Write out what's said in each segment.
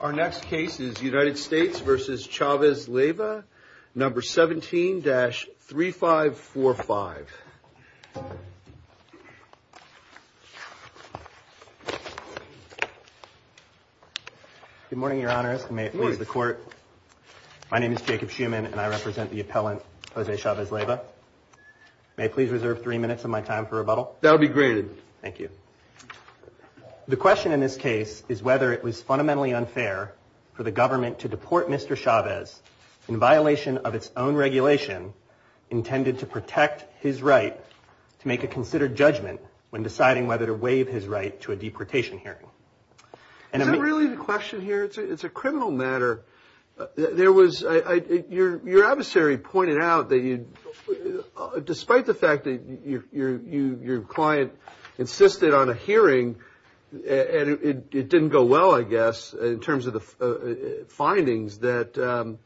Our next case is United States v. Chaves-Leiva, No. 17-3545. Good morning, Your Honor. May it please the Court. My name is Jacob Schuman, and I represent the appellant, Jose Chaves-Leiva. May I please reserve three minutes of my time for rebuttal? That would be great. Thank you. The question in this case is whether it was fundamentally unfair for the government to deport Mr. Chaves in violation of its own regulation intended to protect his right to make a considered judgment when deciding whether to waive his right to a deportation hearing. Is that really the question here? It's a criminal matter. Your adversary pointed out that despite the fact that your client insisted on a hearing, and it didn't go well, I guess, in terms of the findings, that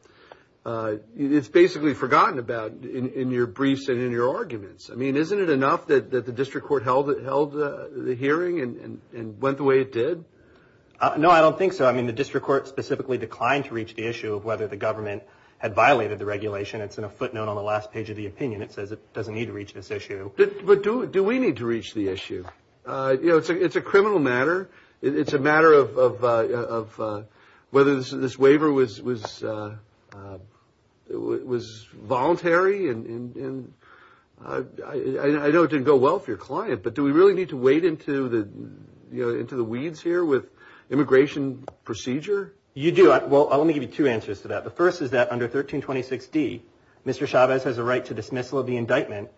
it's basically forgotten about in your briefs and in your arguments. I mean, isn't it enough that the district court held the hearing and went the way it did? No, I don't think so. I mean, the district court specifically declined to reach the issue of whether the government had violated the regulation. It's in a footnote on the last page of the opinion. It says it doesn't need to reach this issue. But do we need to reach the issue? You know, it's a criminal matter. It's a matter of whether this waiver was voluntary, and I know it didn't go well for your client, but do we really need to wade into the weeds here with immigration procedure? You do. Well, let me give you two answers to that. The first is that under 1326D, Mr. Chavez has a right to dismissal of the indictment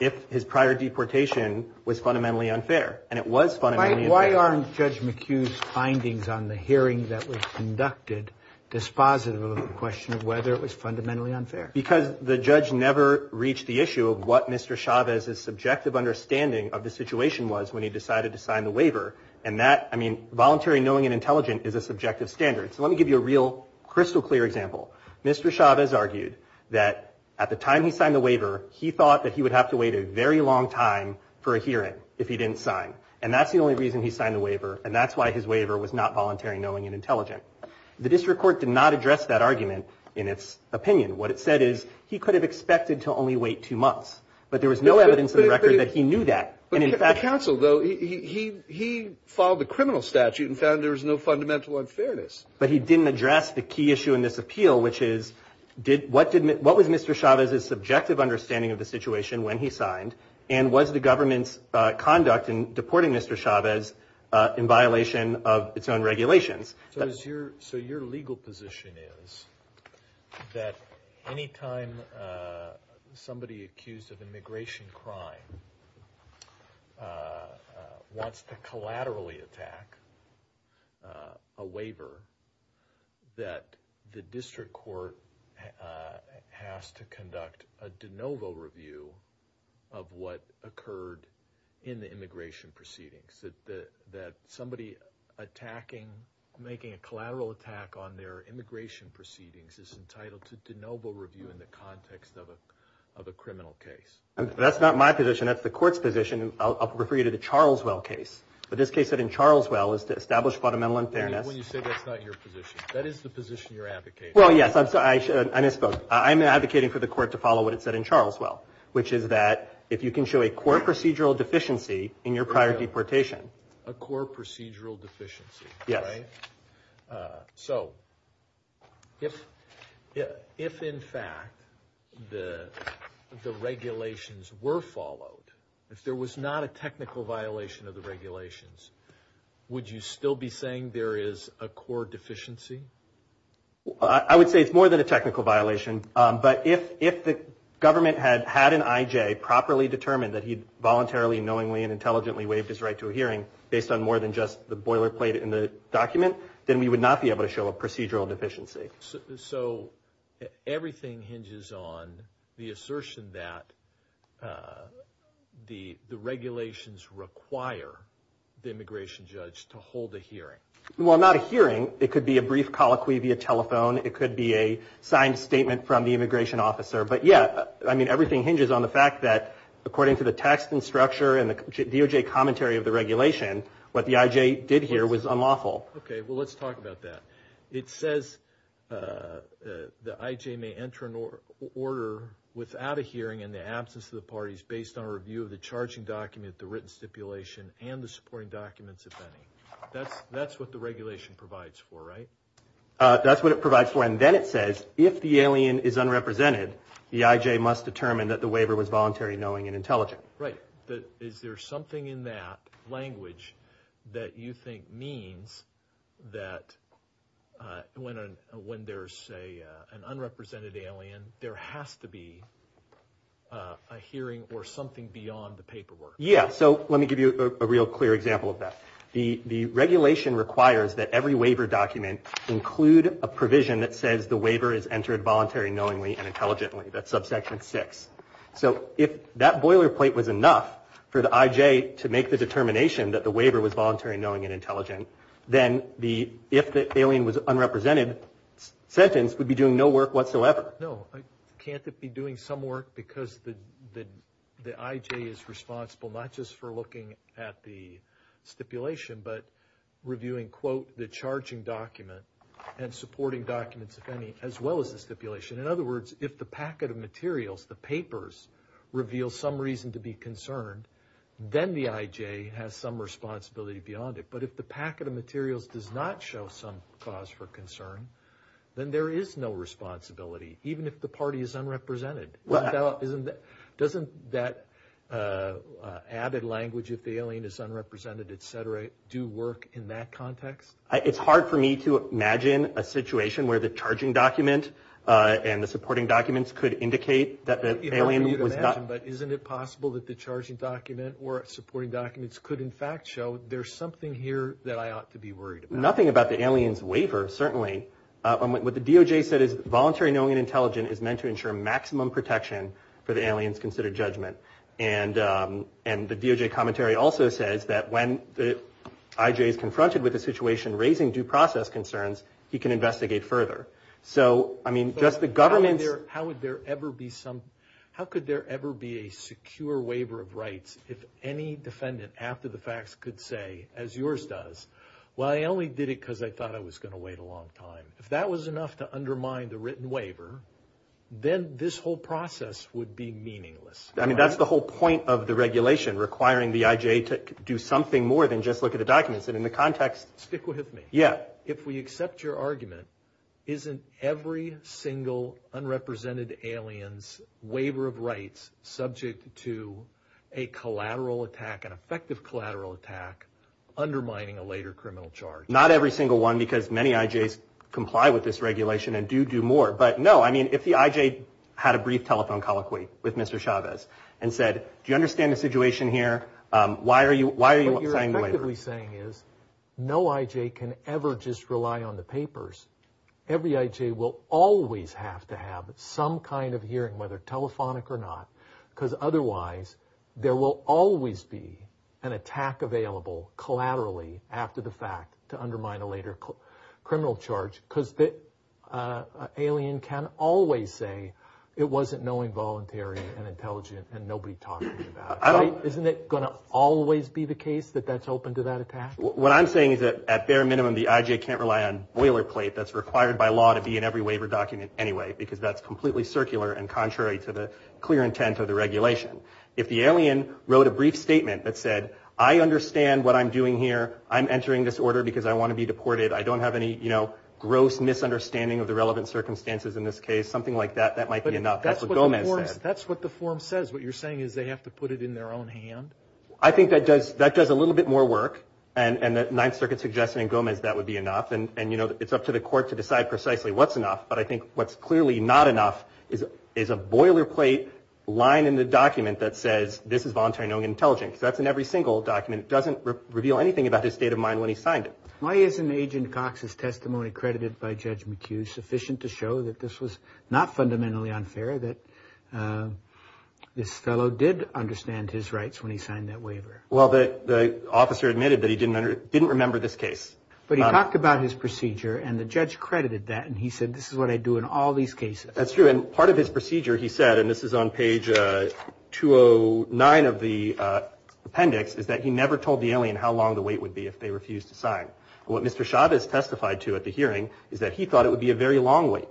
if his prior deportation was fundamentally unfair, and it was fundamentally unfair. Why aren't Judge McHugh's findings on the hearing that was conducted dispositive of the question of whether it was fundamentally unfair? Because the judge never reached the issue of what Mr. Chavez's subjective understanding of the situation was when he decided to sign the waiver, and that, I mean, voluntary knowing and intelligent is a subjective standard. So let me give you a real crystal clear example. Mr. Chavez argued that at the time he signed the waiver, he thought that he would have to wait a very long time for a hearing if he didn't sign, and that's the only reason he signed the waiver, and that's why his waiver was not voluntary knowing and intelligent. The district court did not address that argument in its opinion. What it said is he could have expected to only wait two months, but there was no evidence in the record that he knew that. But the counsel, though, he followed the criminal statute and found there was no fundamental unfairness. But he didn't address the key issue in this appeal, which is what was Mr. Chavez's subjective understanding of the situation when he signed, and was the government's conduct in deporting Mr. Chavez in violation of its own regulations? So your legal position is that any time somebody accused of immigration crime wants to collaterally attack a waiver, that the district court has to conduct a de novo review of what occurred in the immigration proceedings, that somebody attacking, making a collateral attack on their immigration proceedings is entitled to de novo review in the context of a criminal case. That's not my position. That's the court's position. I'll refer you to the Charleswell case. But this case in Charleswell is to establish fundamental unfairness. When you say that's not your position, that is the position you're advocating. Well, yes. I misspoke. I'm advocating for the court to follow what it said in Charleswell, which is that if you can show a core procedural deficiency in your prior deportation. A core procedural deficiency. Yes. Right? So if in fact the regulations were followed, if there was not a technical violation of the regulations, would you still be saying there is a core deficiency? I would say it's more than a technical violation. But if the government had had an IJ properly determine that he voluntarily, knowingly, and intelligently waived his right to a hearing based on more than just the boilerplate in the document, then we would not be able to show a procedural deficiency. So everything hinges on the assertion that the regulations require the immigration judge to hold a hearing. Well, not a hearing. It could be a brief colloquy via telephone. It could be a signed statement from the immigration officer. But, yeah, I mean, everything hinges on the fact that according to the text and structure and the DOJ commentary of the regulation, what the IJ did hear was unlawful. Okay. Well, let's talk about that. It says the IJ may enter an order without a hearing in the absence of the parties based on a review of the charging document, the written stipulation, and the supporting documents, if any. That's what the regulation provides for, right? That's what it provides for, and then it says if the alien is unrepresented, the IJ must determine that the waiver was voluntary, knowing, and intelligent. Right. Is there something in that language that you think means that when there's an unrepresented alien, there has to be a hearing or something beyond the paperwork? Yeah. So let me give you a real clear example of that. The regulation requires that every waiver document include a provision that says the waiver is entered voluntary, knowingly, and intelligently. That's subsection 6. So if that boilerplate was enough for the IJ to make the determination that the waiver was voluntary, knowing, and intelligent, then the if the alien was unrepresented sentence would be doing no work whatsoever. No. Well, can't it be doing some work because the IJ is responsible not just for looking at the stipulation but reviewing, quote, the charging document and supporting documents, if any, as well as the stipulation. In other words, if the packet of materials, the papers, reveals some reason to be concerned, then the IJ has some responsibility beyond it. But if the packet of materials does not show some cause for concern, then there is no responsibility. Even if the party is unrepresented. Doesn't that added language, if the alien is unrepresented, et cetera, do work in that context? It's hard for me to imagine a situation where the charging document and the supporting documents could indicate that the alien was not. But isn't it possible that the charging document or supporting documents could, in fact, show there's something here that I ought to be worried about? Nothing about the alien's waiver, certainly. What the DOJ said is voluntary knowing and intelligence is meant to ensure maximum protection for the alien's considered judgment. And the DOJ commentary also says that when the IJ is confronted with a situation raising due process concerns, he can investigate further. So, I mean, just the government's. How would there ever be some, how could there ever be a secure waiver of rights if any defendant after the facts could say, as yours does, well, I only did it because I thought I was going to wait a long time. If that was enough to undermine the written waiver, then this whole process would be meaningless. I mean, that's the whole point of the regulation, requiring the IJ to do something more than just look at the documents. And in the context. Stick with me. Yeah. If we accept your argument, isn't every single unrepresented alien's waiver of rights subject to a collateral attack, an effective collateral attack undermining a later criminal charge? Not every single one, because many IJs comply with this regulation and do do more. But, no, I mean, if the IJ had a brief telephone colloquy with Mr. Chavez and said, do you understand the situation here? Why are you saying the waiver? What you're effectively saying is no IJ can ever just rely on the papers. Every IJ will always have to have some kind of hearing, whether telephonic or not, because otherwise there will always be an attack available collaterally after the fact to undermine a later criminal charge, because the alien can always say it wasn't knowing voluntary and intelligent and nobody talking about it. Isn't it going to always be the case that that's open to that attack? What I'm saying is that at bare minimum the IJ can't rely on boilerplate that's required by law to be in every waiver document anyway, because that's completely circular and contrary to the clear intent of the regulation. If the alien wrote a brief statement that said, I understand what I'm doing here. I'm entering this order because I want to be deported. I don't have any, you know, gross misunderstanding of the relevant circumstances in this case, something like that, that might be enough. That's what Gomez said. That's what the form says. What you're saying is they have to put it in their own hand? I think that does that does a little bit more work. And the Ninth Circuit suggested in Gomez that would be enough. And, you know, it's up to the court to decide precisely what's enough. But I think what's clearly not enough is is a boilerplate line in the document that says this is voluntary, no intelligence that's in every single document doesn't reveal anything about his state of mind when he signed it. Why is an agent Cox's testimony credited by Judge McHugh sufficient to show that this was not fundamentally unfair, that this fellow did understand his rights when he signed that waiver? Well, the officer admitted that he didn't didn't remember this case. But he talked about his procedure and the judge credited that. And he said, this is what I do in all these cases. That's true. And part of his procedure, he said, and this is on page 209 of the appendix, is that he never told the alien how long the wait would be if they refused to sign. What Mr. Chavez testified to at the hearing is that he thought it would be a very long wait.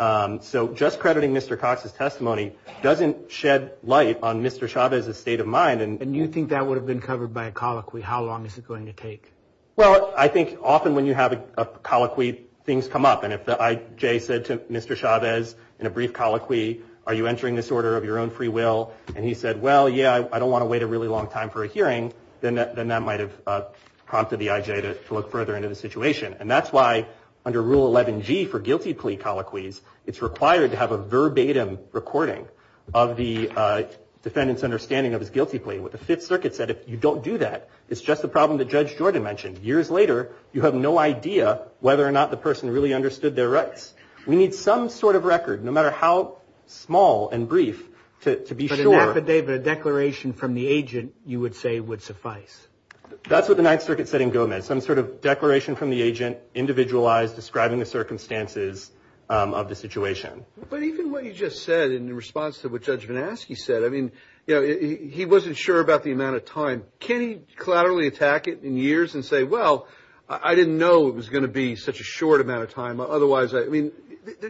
So just crediting Mr. Cox's testimony doesn't shed light on Mr. Chavez's state of mind. And you think that would have been covered by a colloquy. How long is it going to take? Well, I think often when you have a colloquy, things come up. And if the IJ said to Mr. Chavez in a brief colloquy, are you entering this order of your own free will? And he said, well, yeah, I don't want to wait a really long time for a hearing. Then that might have prompted the IJ to look further into the situation. And that's why under Rule 11G for guilty plea colloquies, it's required to have a verbatim recording of the defendant's understanding of his guilty plea. What the Fifth Circuit said, if you don't do that, it's just a problem that Judge Jordan mentioned. Years later, you have no idea whether or not the person really understood their rights. We need some sort of record, no matter how small and brief, to be sure. But an affidavit, a declaration from the agent, you would say, would suffice. That's what the Ninth Circuit said in Gomez. Some sort of declaration from the agent, individualized, describing the circumstances of the situation. But even what you just said in response to what Judge Van Aske said, I mean, you know, he wasn't sure about the amount of time. Can he collaterally attack it in years and say, well, I didn't know it was going to be such a short amount of time. Otherwise, I mean,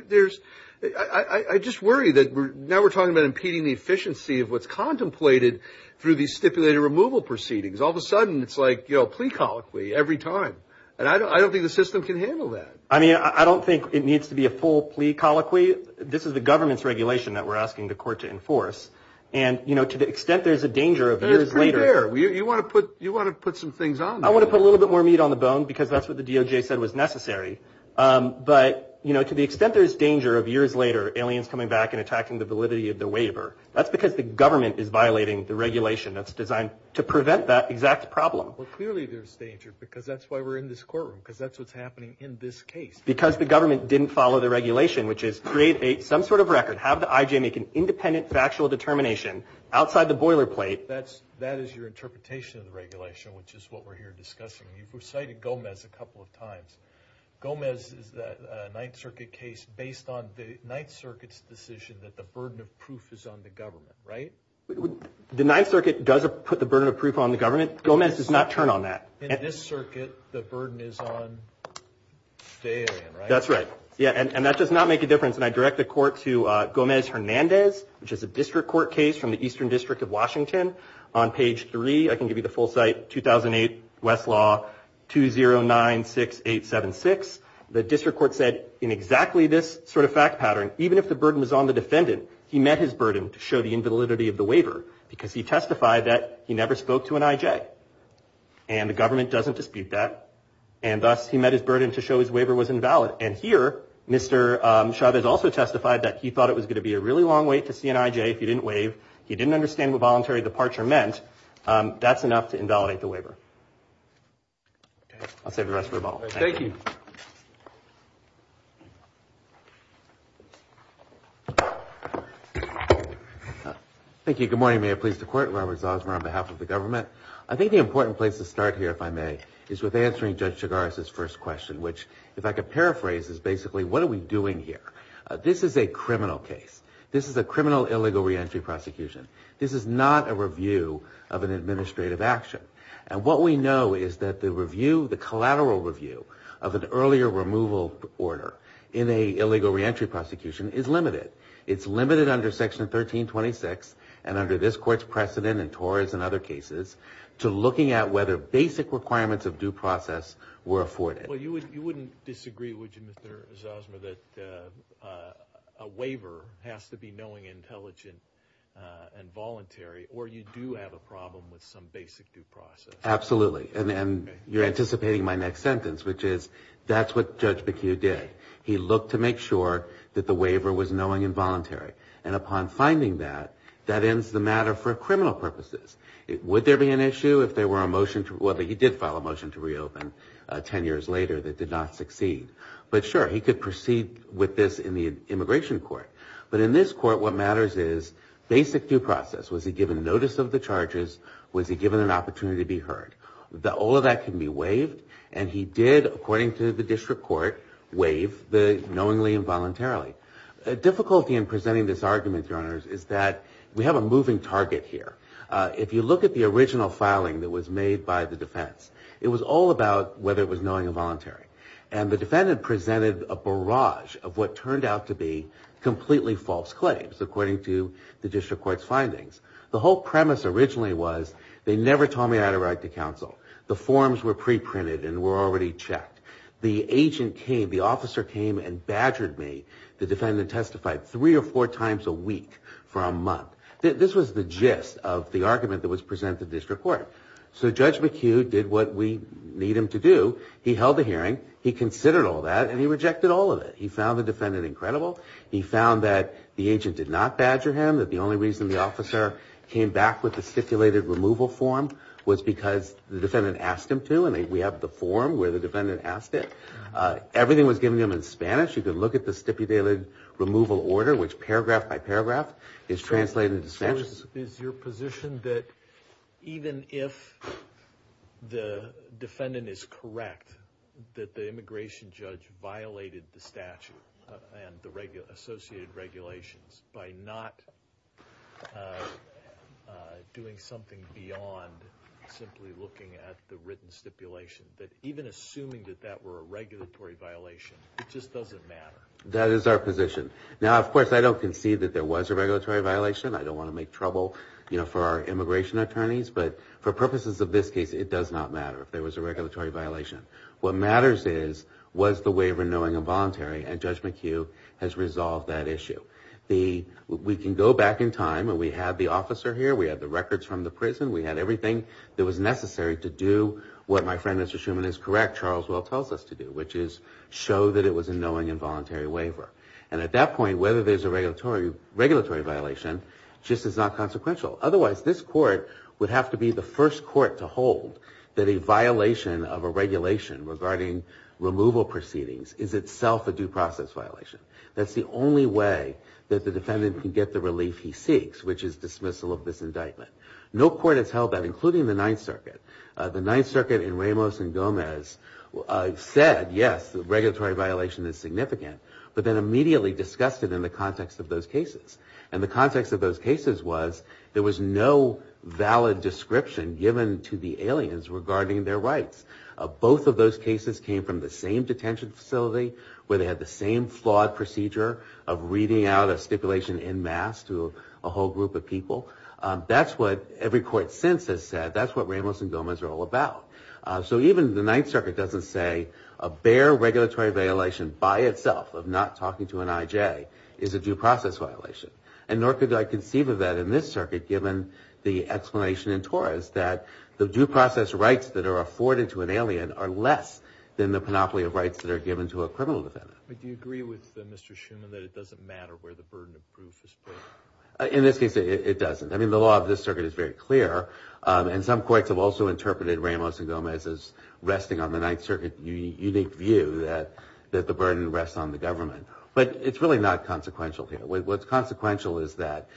there's I just worry that now we're talking about impeding the efficiency of what's contemplated through the stipulated removal proceedings. All of a sudden, it's like, you know, plea colloquy every time. And I don't think the system can handle that. I mean, I don't think it needs to be a full plea colloquy. This is the government's regulation that we're asking the court to enforce. And, you know, to the extent there's a danger of years later. You want to put you want to put some things on. I want to put a little bit more meat on the bone because that's what the DOJ said was necessary. But, you know, to the extent there's danger of years later, aliens coming back and attacking the validity of the waiver. That's because the government is violating the regulation that's designed to prevent that exact problem. Well, clearly, there's danger because that's why we're in this courtroom, because that's what's happening in this case. Because the government didn't follow the regulation, which is create a some sort of record, have the IJ make an independent factual determination outside the boilerplate. That's that is your interpretation of the regulation, which is what we're here discussing. You've recited Gomez a couple of times. Gomez is the Ninth Circuit case based on the Ninth Circuit's decision that the burden of proof is on the government. Right. The Ninth Circuit does put the burden of proof on the government. Gomez does not turn on that. In this circuit, the burden is on. That's right. Yeah. And that does not make a difference. And I direct the court to Gomez Hernandez, which is a district court case from the Eastern District of Washington. On page three, I can give you the full site. 2008 Westlaw 2096876. The district court said in exactly this sort of fact pattern, even if the burden is on the defendant, he met his burden to show the invalidity of the waiver because he testified that he never spoke to an IJ. And the government doesn't dispute that. And thus, he met his burden to show his waiver was invalid. And here, Mr. Chavez also testified that he thought it was going to be a really long wait to see an IJ. If you didn't wave, you didn't understand what voluntary departure meant. That's enough to invalidate the waiver. I'll save the rest for the ball. Thank you. Thank you. Good morning, Mayor. Pleased to court. Robert Zosmer on behalf of the government. I think the important place to start here, if I may, is with answering Judge Chigaris's first question, which, if I could paraphrase, is basically, what are we doing here? This is a criminal case. This is a criminal illegal reentry prosecution. This is not a review of an administrative action. And what we know is that the review, the collateral review of an earlier removal order in a illegal reentry prosecution is limited. It's limited under Section 1326 and under this court's precedent and TOR's and other cases to looking at whether basic requirements of due process were afforded. Well, you wouldn't disagree, would you, Mr. Zosmer, that a waiver has to be knowing, intelligent, and voluntary, or you do have a problem with some basic due process? Absolutely. And you're anticipating my next sentence, which is, that's what Judge McHugh did. He looked to make sure that the waiver was knowing and voluntary. And upon finding that, that ends the matter for criminal purposes. Would there be an issue if there were a motion, well, he did file a motion to reopen ten years later that did not succeed. But sure, he could proceed with this in the immigration court. But in this court, what matters is basic due process. Was he given notice of the charges? Was he given an opportunity to be heard? All of that can be waived, and he did, according to the district court, waive the knowingly and voluntarily. The difficulty in presenting this argument, Your Honors, is that we have a moving target here. If you look at the original filing that was made by the defense, it was all about whether it was knowing and voluntary. And the defendant presented a barrage of what turned out to be completely false claims, according to the district court's findings. The whole premise originally was, they never told me I had a right to counsel. The forms were pre-printed and were already checked. The agent came, the officer came and badgered me, the defendant testified, three or four times a week for a month. This was the gist of the argument that was presented to the district court. So Judge McHugh did what we need him to do. He held the hearing, he considered all that, and he rejected all of it. He found the defendant incredible. He found that the agent did not badger him, that the only reason the officer came back with the stipulated removal form was because the defendant asked him to, and we have the form where the defendant asked it. Everything was given to him in Spanish. You can look at the stipulated removal order, which paragraph by paragraph is translated into Spanish. So is your position that even if the defendant is correct that the immigration judge violated the statute and the associated regulations by not doing something beyond simply looking at the written stipulation, that even assuming that that were a regulatory violation, it just doesn't matter? That is our position. Now, of course, I don't concede that there was a regulatory violation. I don't want to make trouble for our immigration attorneys. But for purposes of this case, it does not matter if there was a regulatory violation. What matters is, was the waiver knowing and voluntary, and Judge McHugh has resolved that issue. We can go back in time, and we had the officer here, we had the records from the prison, we had everything that was necessary to do what my friend Mr. Schuman is correct, Charles Well tells us to do, which is show that it was a knowing and voluntary waiver. And at that point, whether there's a regulatory violation just is not consequential. Otherwise, this court would have to be the first court to hold that a violation of a regulation regarding removal proceedings is itself a due process violation. That's the only way that the defendant can get the relief he seeks, which is dismissal of this indictment. No court has held that, including the Ninth Circuit. The Ninth Circuit in Ramos and Gomez said, yes, the regulatory violation is significant, but then immediately discussed it in the context of those cases. And the context of those cases was, there was no valid description given to the aliens regarding their rights. Both of those cases came from the same detention facility, where they had the same flawed procedure of reading out a stipulation en masse to a whole group of people. That's what every court since has said. That's what Ramos and Gomez are all about. So even the Ninth Circuit doesn't say a bare regulatory violation by itself of not talking to an I.J. is a due process violation, and nor could I conceive of that in this circuit, given the explanation in Torres that the due process rights that are afforded to an alien are less than the panoply of rights that are given to a criminal defendant. But do you agree with Mr. Schuman that it doesn't matter where the burden of proof is placed? In this case, it doesn't. I mean, the law of this circuit is very clear, and some courts have also interpreted Ramos and Gomez's resting on the Ninth Circuit unique view that the burden rests on the government. But it's really not consequential here. What's consequential is that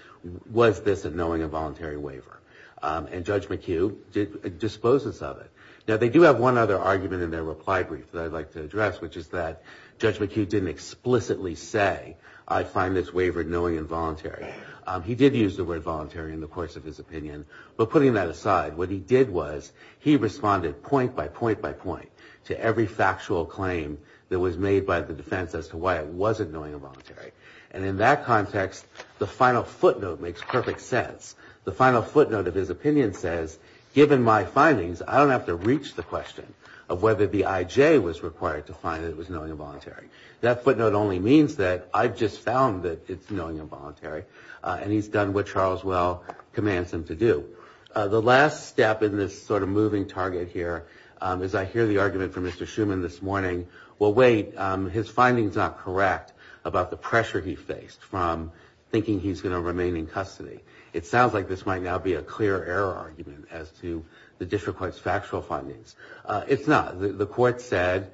was this a knowing and voluntary waiver? And Judge McHugh disposes of it. Now, they do have one other argument in their reply brief that I'd like to address, which is that Judge McHugh didn't explicitly say, I find this waiver knowing and voluntary. He did use the word voluntary in the course of his opinion. But putting that aside, what he did was he responded point by point by point to every factual claim that was made by the defense as to why it wasn't knowing and voluntary. And in that context, the final footnote makes perfect sense. The final footnote of his opinion says, given my findings, I don't have to reach the question of whether the IJ was required to find that it was knowing and voluntary. That footnote only means that I've just found that it's knowing and voluntary, and he's done what Charles Well commands him to do. The last step in this sort of moving target here is I hear the argument from Mr. Schuman this morning, well, wait, his finding's not correct about the pressure he faced from thinking he's going to remain in custody. It sounds like this might now be a clear error argument as to the district court's factual findings. It's not. The court said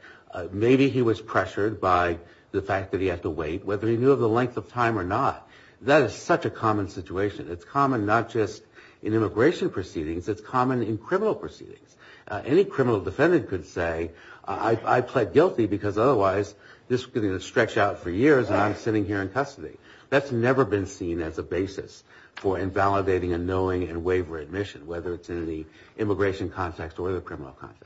maybe he was pressured by the fact that he had to wait, whether he knew of the length of time or not. That is such a common situation. It's common not just in immigration proceedings. It's common in criminal proceedings. Any criminal defendant could say I pled guilty because otherwise this could stretch out for years and I'm sitting here in custody. That's never been seen as a basis for invalidating a knowing and waiver admission, whether it's in the immigration context or the criminal context.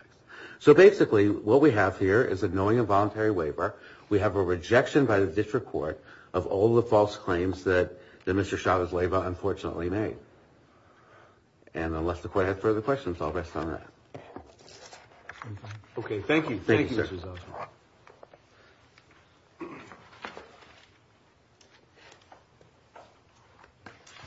So basically what we have here is a knowing and voluntary waiver. We have a rejection by the district court of all the false claims that Mr. Chavez-Leyva unfortunately made. And unless the court has further questions, I'll rest on that. Okay, thank you. Thank you, Mr. Zosma.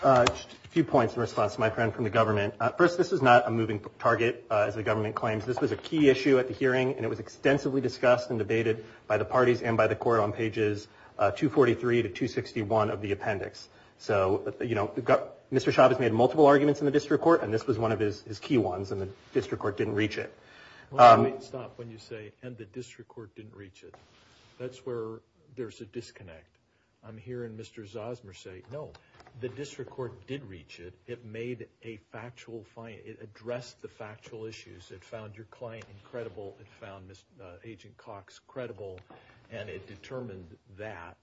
A few points in response to my friend from the government. First, this is not a moving target, as the government claims. This was a key issue at the hearing, and it was extensively discussed and debated by the parties and by the court on pages 243 to 261 of the appendix. So, you know, Mr. Chavez made multiple arguments in the district court, and this was one of his key ones, and the district court didn't reach it. Well, let me stop when you say, and the district court didn't reach it. That's where there's a disconnect. I'm hearing Mr. Zosma say, no, the district court did reach it. It made a factual, it addressed the factual issues. It found your client incredible. It found Agent Cox credible, and it determined that,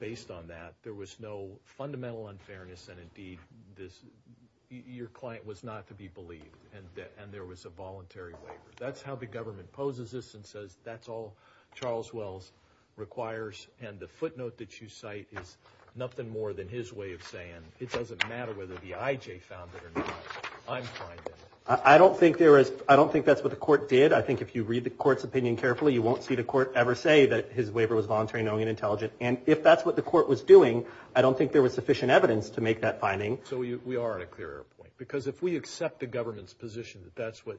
based on that, there was no fundamental unfairness and, indeed, your client was not to be believed. And there was a voluntary waiver. That's how the government poses this and says, that's all Charles Wells requires. And the footnote that you cite is nothing more than his way of saying, it doesn't matter whether the I.J. found it or not. I'm fine with it. I don't think that's what the court did. I think if you read the court's opinion carefully, you won't see the court ever say that his waiver was voluntary, knowing, and intelligent. And if that's what the court was doing, I don't think there was sufficient evidence to make that finding. So we are at a clear point. Because if we accept the government's position that that's what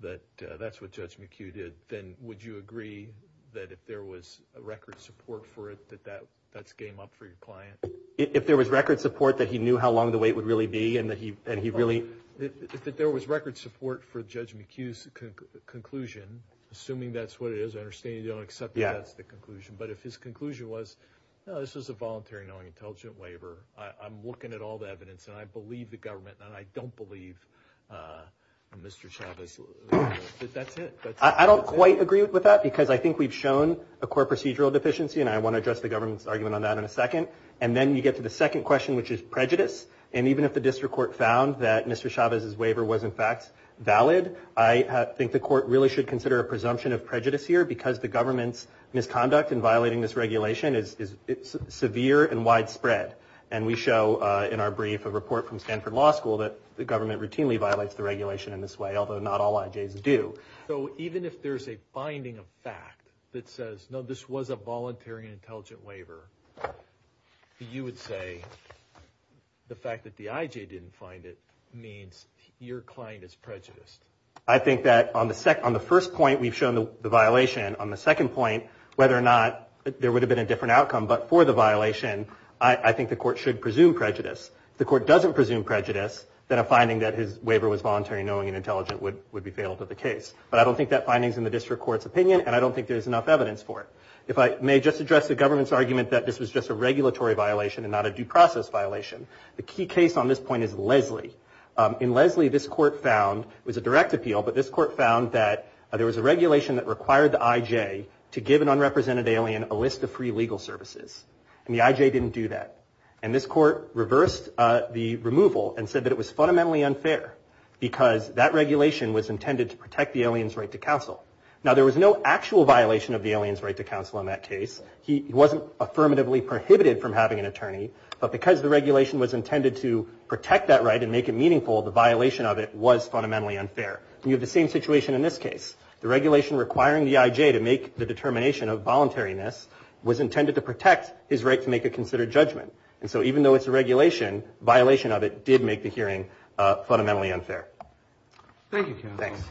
Judge McHugh did, then would you agree that if there was record support for it, that that's game up for your client? If there was record support that he knew how long the wait would really be and he really – If there was record support for Judge McHugh's conclusion, assuming that's what it is, I understand you don't accept that's the conclusion, but if his conclusion was, no, this is a voluntary, knowing, intelligent waiver, I'm looking at all the evidence and I believe the government and I don't believe Mr. Chavez, that's it. I don't quite agree with that because I think we've shown a core procedural deficiency, and I want to address the government's argument on that in a second. And then you get to the second question, which is prejudice. And even if the district court found that Mr. Chavez's waiver was, in fact, valid, I think the court really should consider a presumption of prejudice here because the government's misconduct in violating this regulation is severe and widespread. And we show in our brief a report from Stanford Law School that the government routinely violates the regulation in this way, although not all IJs do. So even if there's a finding of fact that says, no, this was a voluntary, intelligent waiver, you would say the fact that the IJ didn't find it means your client is prejudiced. I think that on the first point, we've shown the violation. On the second point, whether or not there would have been a different outcome, but for the violation, I think the court should presume prejudice. If the court doesn't presume prejudice, then a finding that his waiver was voluntary, knowing, and intelligent would be failed at the case. But I don't think that finding's in the district court's opinion, and I don't think there's enough evidence for it. If I may just address the government's argument that this was just a regulatory violation and not a due process violation, the key case on this point is Leslie. In Leslie, this court found, it was a direct appeal, but this court found that there was a regulation that required the IJ to give an unrepresented alien a list of free legal services, and the IJ didn't do that. And this court reversed the removal and said that it was fundamentally unfair because that regulation was intended to protect the alien's right to counsel. Now, there was no actual violation of the alien's right to counsel in that case. He wasn't affirmatively prohibited from having an attorney, but because the regulation was intended to protect that right and make it meaningful, the violation of it was fundamentally unfair. And you have the same situation in this case. The regulation requiring the IJ to make the determination of voluntariness was intended to protect his right to make a considered judgment. And so even though it's a regulation, violation of it did make the hearing fundamentally unfair. Thank you, counsel. Thanks.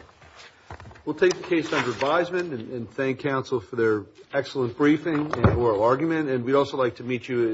We'll take the case under advisement and thank counsel for their excellent briefing and oral argument, and we'd also like to meet you at a later time.